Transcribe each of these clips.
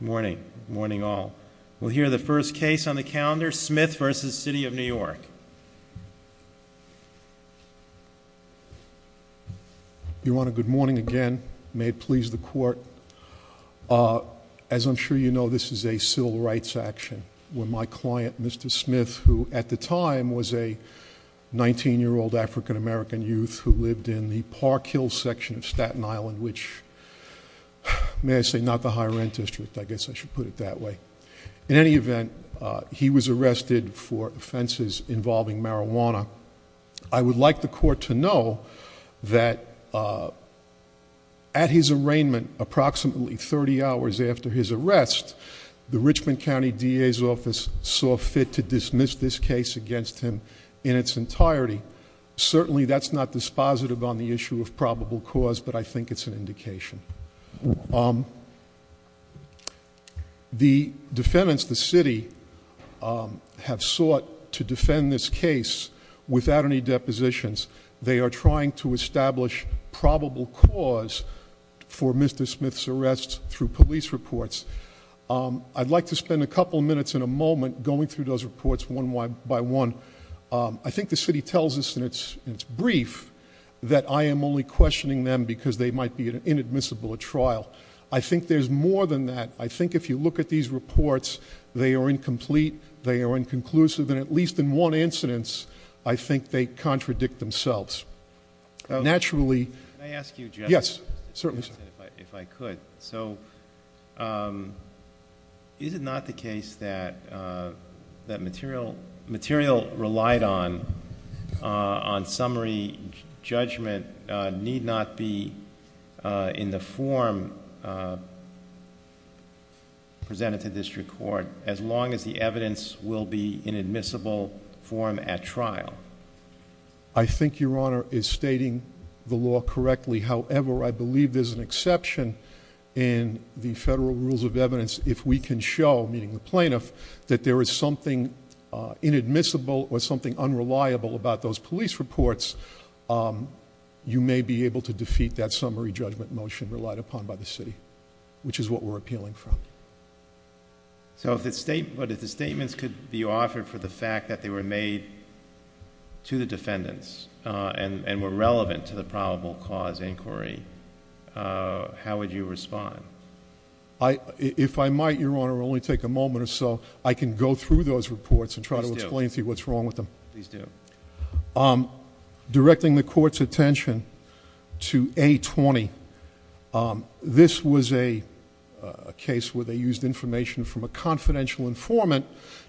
Morning, morning all. We'll hear the first case on the calendar, Smith v. City of New York. You want a good morning again, may it please the court. As I'm sure you know, this is a civil rights action. When my client, Mr. Smith, who at the time was a 19-year-old African-American youth who lived in the Park Hill section of Staten Island, which, may I say, not the high rent district, I guess I should put it that way. In any event, he was arrested for offenses involving marijuana. I would like the court to know that at his arraignment, approximately 30 hours after his arrest, the Richmond County DA's office saw fit to dismiss this case against him in its entirety. Certainly, that's not dispositive on the issue of probable cause, but I think it's an indication. The defendants, the city, have sought to defend this case without any depositions. They are trying to establish probable cause for Mr. Smith's arrest through police reports. I'd like to spend a couple minutes in a moment going through those reports one by one. I think the city tells us in its brief that I am only questioning them because they might be inadmissible at trial. I think there's more than that. I think if you look at these reports, they are incomplete, they are inconclusive, and at least in one incidence, I think they contradict themselves. Naturally- Can I ask you just- Yes, certainly sir. If I could. So, is it not the case that material relied on on summary judgment need not be in the form presented to district court, as long as the evidence will be in admissible form at trial? I think your honor is stating the law correctly. However, I believe there's an exception in the federal rules of evidence if we can show, meaning the plaintiff, that there is something inadmissible or something unreliable about those police reports. You may be able to defeat that summary judgment motion relied upon by the city, which is what we're appealing from. So if the statements could be offered for the fact that they were made to the defendants, and were relevant to the probable cause inquiry, how would you respond? If I might, your honor, I'll only take a moment or so. I can go through those reports and try to explain to you what's wrong with them. Please do. Directing the court's attention to A-20, this was a case where they used information from a confidential informant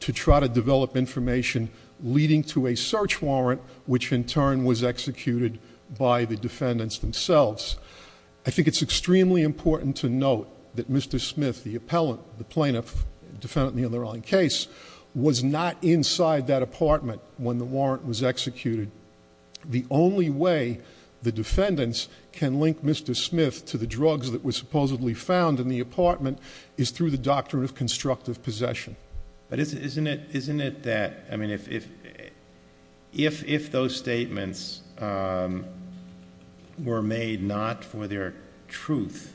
to try to develop information leading to a search warrant, which in turn was executed by the defendants themselves. I think it's extremely important to note that Mr. Smith, the plaintiff, defendant in the underlying case, was not inside that apartment when the warrant was executed. The only way the defendants can link Mr. Smith to the drugs that were supposedly found in the apartment is through the doctrine of constructive possession. But isn't it that, I mean, if those statements were made not for their truth,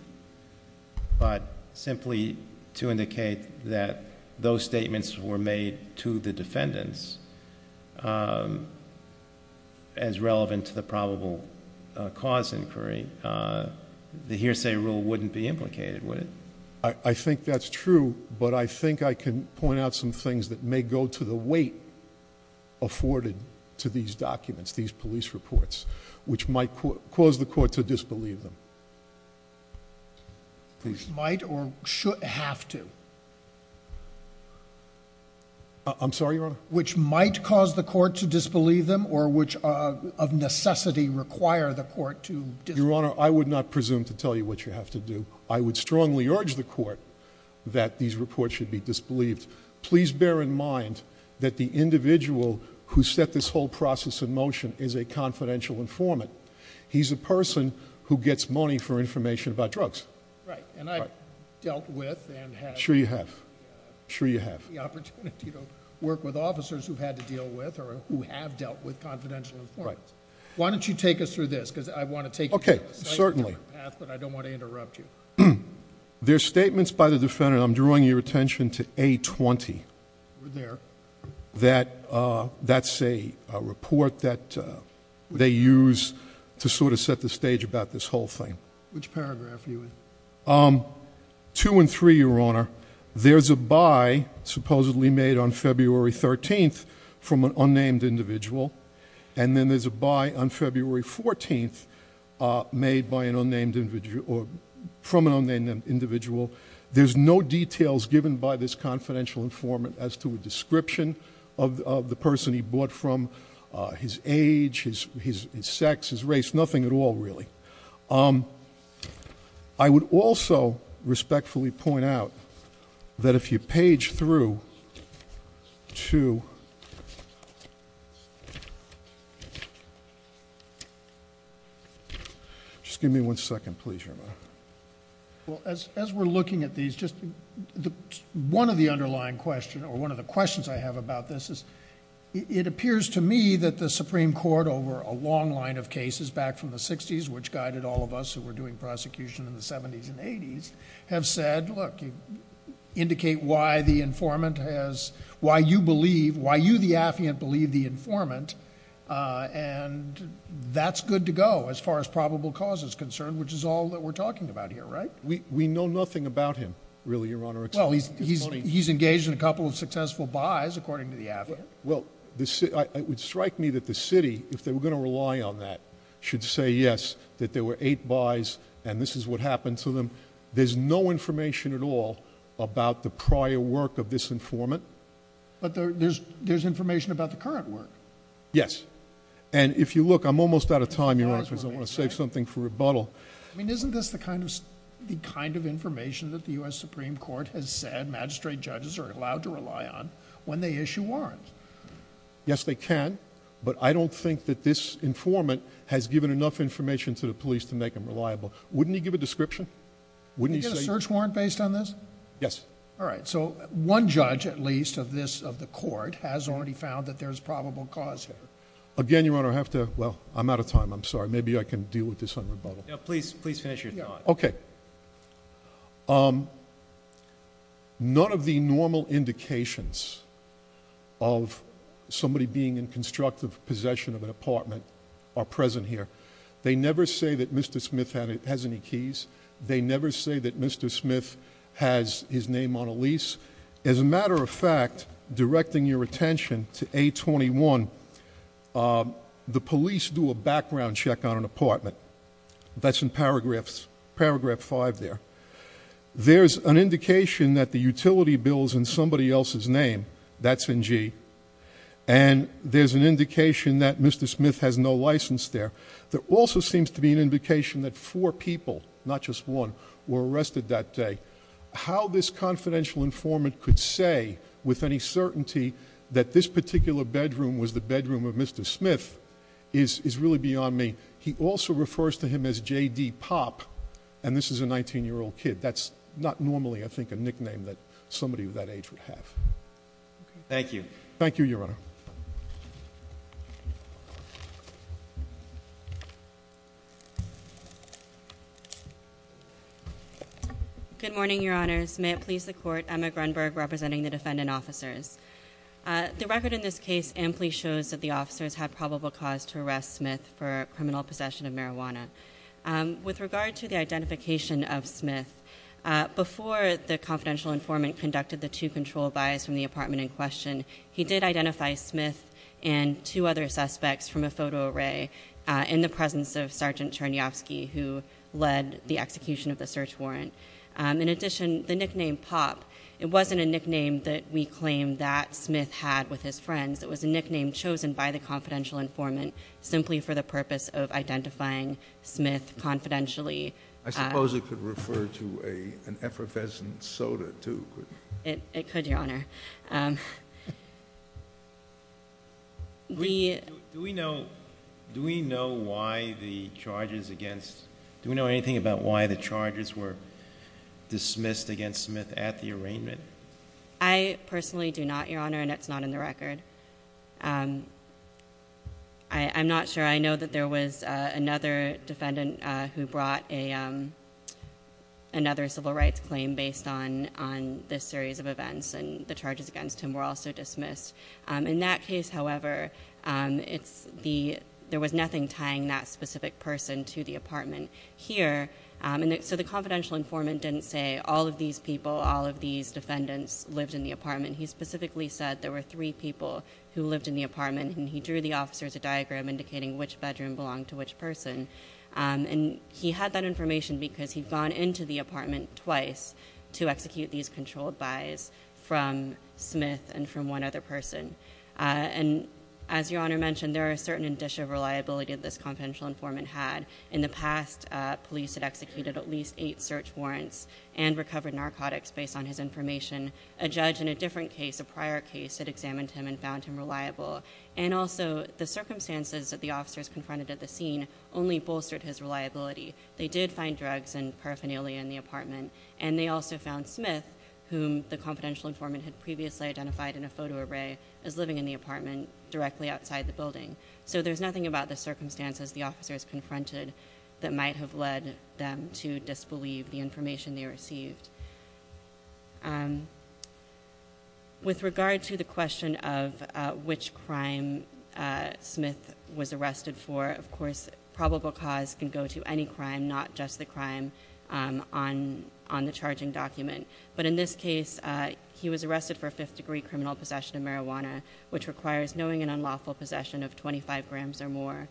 but simply to indicate that those statements were made to the defendants as relevant to the probable cause inquiry, the hearsay rule wouldn't be implicated, would it? I think that's true, but I think I can point out some things that may go to the weight afforded to these documents, these police reports, which might cause the court to disbelieve them. Please. Might or should have to? I'm sorry, your honor? Which might cause the court to disbelieve them or which of necessity require the court to disbelieve them? Your honor, I would not presume to tell you what you have to do. I would strongly urge the court that these reports should be disbelieved. Please bear in mind that the individual who set this whole process in motion is a confidential informant. He's a person who gets money for information about drugs. Right, and I've dealt with and have- Sure you have. Sure you have. The opportunity to work with officers who've had to deal with or who have dealt with confidential informants. Why don't you take us through this, because I want to take you through this. Okay, certainly. Okay. But I don't want to interrupt you. There's statements by the defendant, I'm drawing your attention to A-20. We're there. That's a report that they use to sort of set the stage about this whole thing. Which paragraph are you in? Two and three, your honor. There's a buy supposedly made on February 13th from an unnamed individual. And then there's a buy on February 14th made by an unnamed individual, or from an unnamed individual. There's no details given by this confidential informant as to a description of the person he bought from. His age, his sex, his race, nothing at all really. I would also respectfully point out that if you page through to the end, just give me one second, please, your honor. Well, as we're looking at these, just one of the underlying question, or one of the questions I have about this is, it appears to me that the Supreme Court over a long line of cases back from the 60s, which guided all of us who were doing prosecution in the 70s and 80s, have said, look, indicate why the informant has, why you believe, why you, the affiant, believe the informant. And that's good to go as far as probable cause is concerned, which is all that we're talking about here, right? We know nothing about him, really, your honor. Well, he's engaged in a couple of successful buys, according to the affiant. Well, it would strike me that the city, if they were going to rely on that, should say yes, that there were eight buys, and this is what happened to them. There's no information at all about the prior work of this informant. But there's information about the current work. Yes, and if you look, I'm almost out of time, your honor, because I want to save something for rebuttal. I mean, isn't this the kind of information that the US Supreme Court has said magistrate judges are allowed to rely on when they issue warrants? Yes, they can, but I don't think that this informant has given enough information to the police to make them reliable. Wouldn't he give a description? Wouldn't he say- Can you get a search warrant based on this? Yes. All right, so one judge, at least, of the court has already found that there's probable cause here. Again, your honor, I have to, well, I'm out of time, I'm sorry. Maybe I can deal with this on rebuttal. No, please finish your thought. Okay. None of the normal indications of somebody being in constructive possession of an apartment are present here. They never say that Mr. Smith has any keys. They never say that Mr. Smith has his name on a lease. As a matter of fact, directing your attention to A21, the police do a background check on an apartment. That's in paragraph five there. There's an indication that the utility bill's in somebody else's name. That's in G. And there's an indication that Mr. Smith has no license there. There also seems to be an indication that four people, not just one, were arrested that day. How this confidential informant could say with any certainty that this particular bedroom was the bedroom of Mr. Smith is really beyond me. He also refers to him as JD Pop, and this is a 19-year-old kid. That's not normally, I think, a nickname that somebody of that age would have. Thank you. Thank you, Your Honor. Good morning, Your Honors. May it please the court, Emma Grunberg representing the defendant officers. The record in this case amply shows that the officers had probable cause to arrest Smith for criminal possession of marijuana. With regard to the identification of Smith, before the confidential informant conducted the two control buys from the apartment in question, he did identify Smith and two other suspects from a photo array in the presence of Sergeant Chernyofsky, who led the execution of the search warrant. In addition, the nickname Pop, it wasn't a nickname that we claim that Smith had with his friends. It was a nickname chosen by the confidential informant simply for the purpose of identifying Smith confidentially. I suppose it could refer to an effervescent soda, too, couldn't it? It could, Your Honor. Do we know why the charges against, do we know anything about why the charges were dismissed against Smith at the arraignment? I personally do not, Your Honor, and it's not in the record. I'm not sure. I know that there was another defendant who brought another civil rights claim based on this series of events. And the charges against him were also dismissed. In that case, however, there was nothing tying that specific person to the apartment here. And so the confidential informant didn't say all of these people, all of these defendants lived in the apartment. He specifically said there were three people who lived in the apartment, and he drew the officers a diagram indicating which bedroom belonged to which person. And he had that information because he'd gone into the apartment twice to execute these controlled buys from Smith and from one other person. And as Your Honor mentioned, there are a certain dish of reliability that this confidential informant had. In the past, police had executed at least eight search warrants and recovered narcotics based on his information. A judge in a different case, a prior case, had examined him and found him reliable. And also, the circumstances that the officers confronted at the scene only bolstered his reliability. They did find drugs and paraphernalia in the apartment. And they also found Smith, whom the confidential informant had previously identified in a photo array, as living in the apartment directly outside the building. So there's nothing about the circumstances the officers confronted that might have led them to disbelieve the information they received. With regard to the question of which crime Smith was arrested for, of course probable cause can go to any crime, not just the crime on the charging document. But in this case, he was arrested for fifth degree criminal possession of marijuana, which requires knowing an unlawful possession of 25 grams or more,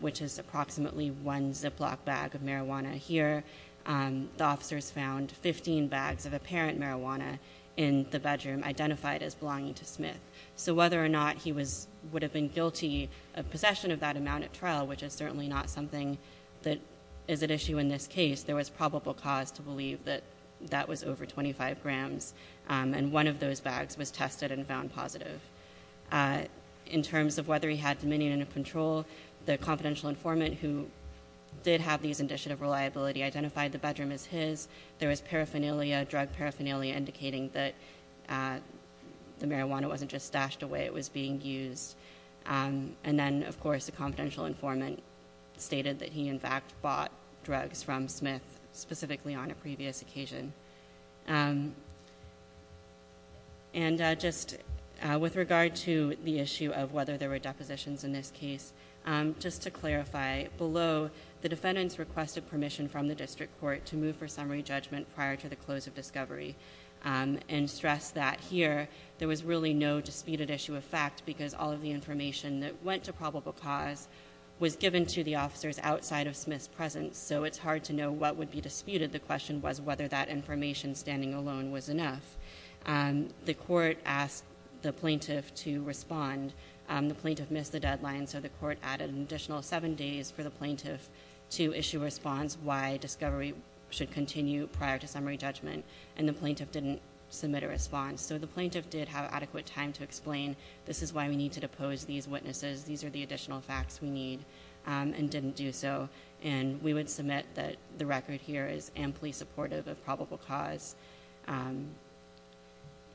which is approximately one Ziploc bag of marijuana. Here, the officers found 15 bags of apparent marijuana in the bedroom, identified as belonging to Smith. So whether or not he would have been guilty of possession of that amount at trial, which is certainly not something that is at issue in this case, there was probable cause to believe that that was over 25 grams. And one of those bags was tested and found positive. In terms of whether he had dominion and control, the confidential informant who did have these indicia of reliability identified the bedroom as his. There was paraphernalia, drug paraphernalia, indicating that the marijuana wasn't just stashed away, it was being used. And then, of course, the confidential informant stated that he, in fact, bought drugs from Smith specifically on a previous occasion. And just with regard to the issue of whether there were depositions in this case, just to clarify, below, the defendants requested permission from the district court to move for summary judgment prior to the close of discovery, and stress that here, there was really no disputed issue of fact, because all of the information that went to probable cause was given to the officers outside of Smith's presence, so it's hard to know what would be disputed. The question was whether that information standing alone was enough. The court asked the plaintiff to respond. The plaintiff missed the deadline, so the court added an additional seven days for the plaintiff to issue a response why discovery should continue prior to summary judgment. And the plaintiff didn't submit a response. So the plaintiff did have adequate time to explain, this is why we need to depose these witnesses. These are the additional facts we need, and didn't do so. And we would submit that the record here is amply supportive of probable cause.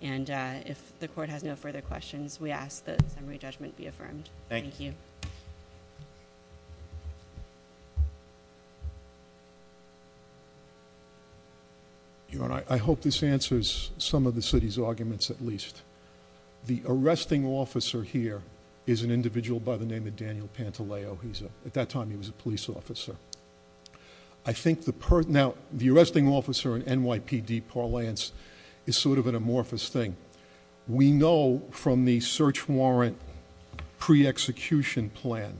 And if the court has no further questions, we ask that summary judgment be affirmed. Thank you. I hope this answers some of the city's arguments at least. The arresting officer here is an individual by the name of Daniel Pantaleo. At that time, he was a police officer. I think the arresting officer in NYPD parliance is sort of an amorphous thing. We know from the search warrant pre-execution plan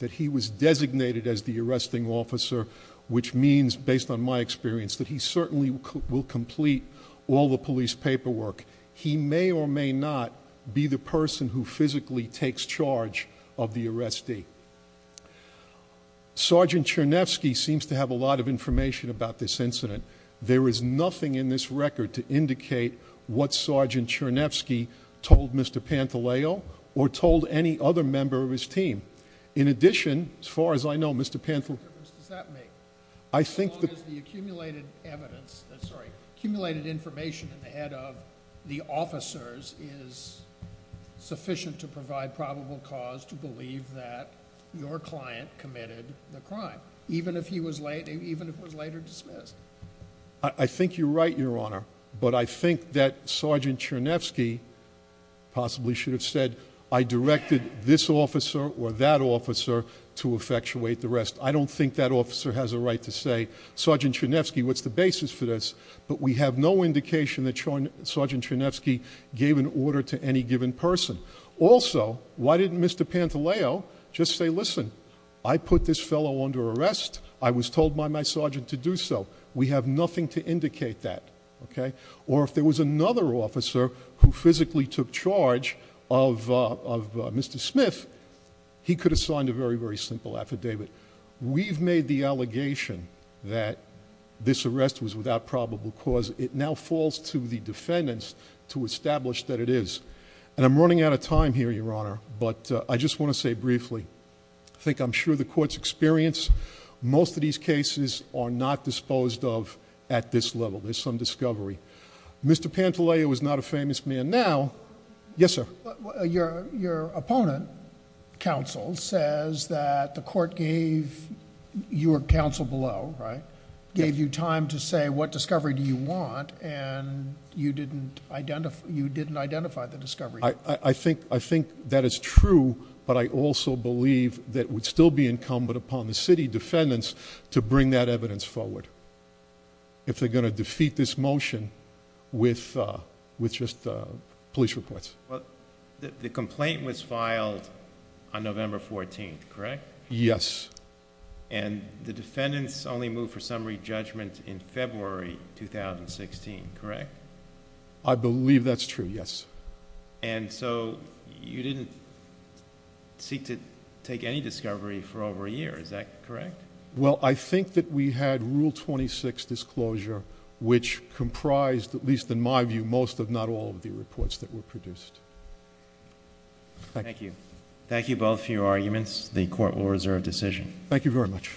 that he was designated as the arresting officer. Which means, based on my experience, that he certainly will complete all the police paperwork. He may or may not be the person who physically takes charge of the arrestee. Sergeant Chernefsky seems to have a lot of information about this incident. There is nothing in this record to indicate what Sergeant Chernefsky told Mr. Pantaleo or told any other member of his team. In addition, as far as I know, Mr. Pantaleo- What difference does that make? I think that- As long as the accumulated evidence, sorry, accumulated information in the head of the officers is sufficient to provide probable cause to believe that your client committed the crime, even if he was later dismissed. I think you're right, your honor. But I think that Sergeant Chernefsky possibly should have said, I directed this officer or that officer to effectuate the rest. I don't think that officer has a right to say, Sergeant Chernefsky, what's the basis for this? But we have no indication that Sergeant Chernefsky gave an order to any given person. Also, why didn't Mr. Pantaleo just say, listen, I put this fellow under arrest. I was told by my sergeant to do so. We have nothing to indicate that, okay? Or if there was another officer who physically took charge of Mr. Smith, he could have signed a very, very simple affidavit. We've made the allegation that this arrest was without probable cause. It now falls to the defendants to establish that it is. And I'm running out of time here, your honor, but I just want to say briefly, I think I'm sure the court's experienced. Most of these cases are not disposed of at this level. There's some discovery. Mr. Pantaleo is not a famous man now. Yes, sir. Your opponent, counsel, says that the court gave your counsel below, right? And you didn't identify the discovery. I think that is true, but I also believe that would still be incumbent upon the city defendants to bring that evidence forward. If they're going to defeat this motion with just police reports. The complaint was filed on November 14th, correct? Yes. And the defendants only moved for summary judgment in February 2016, correct? I believe that's true, yes. And so, you didn't seek to take any discovery for over a year, is that correct? Well, I think that we had Rule 26 disclosure, which comprised, at least in my view, most if not all of the reports that were produced. Thank you both for your arguments. The court will reserve decision. Thank you very much.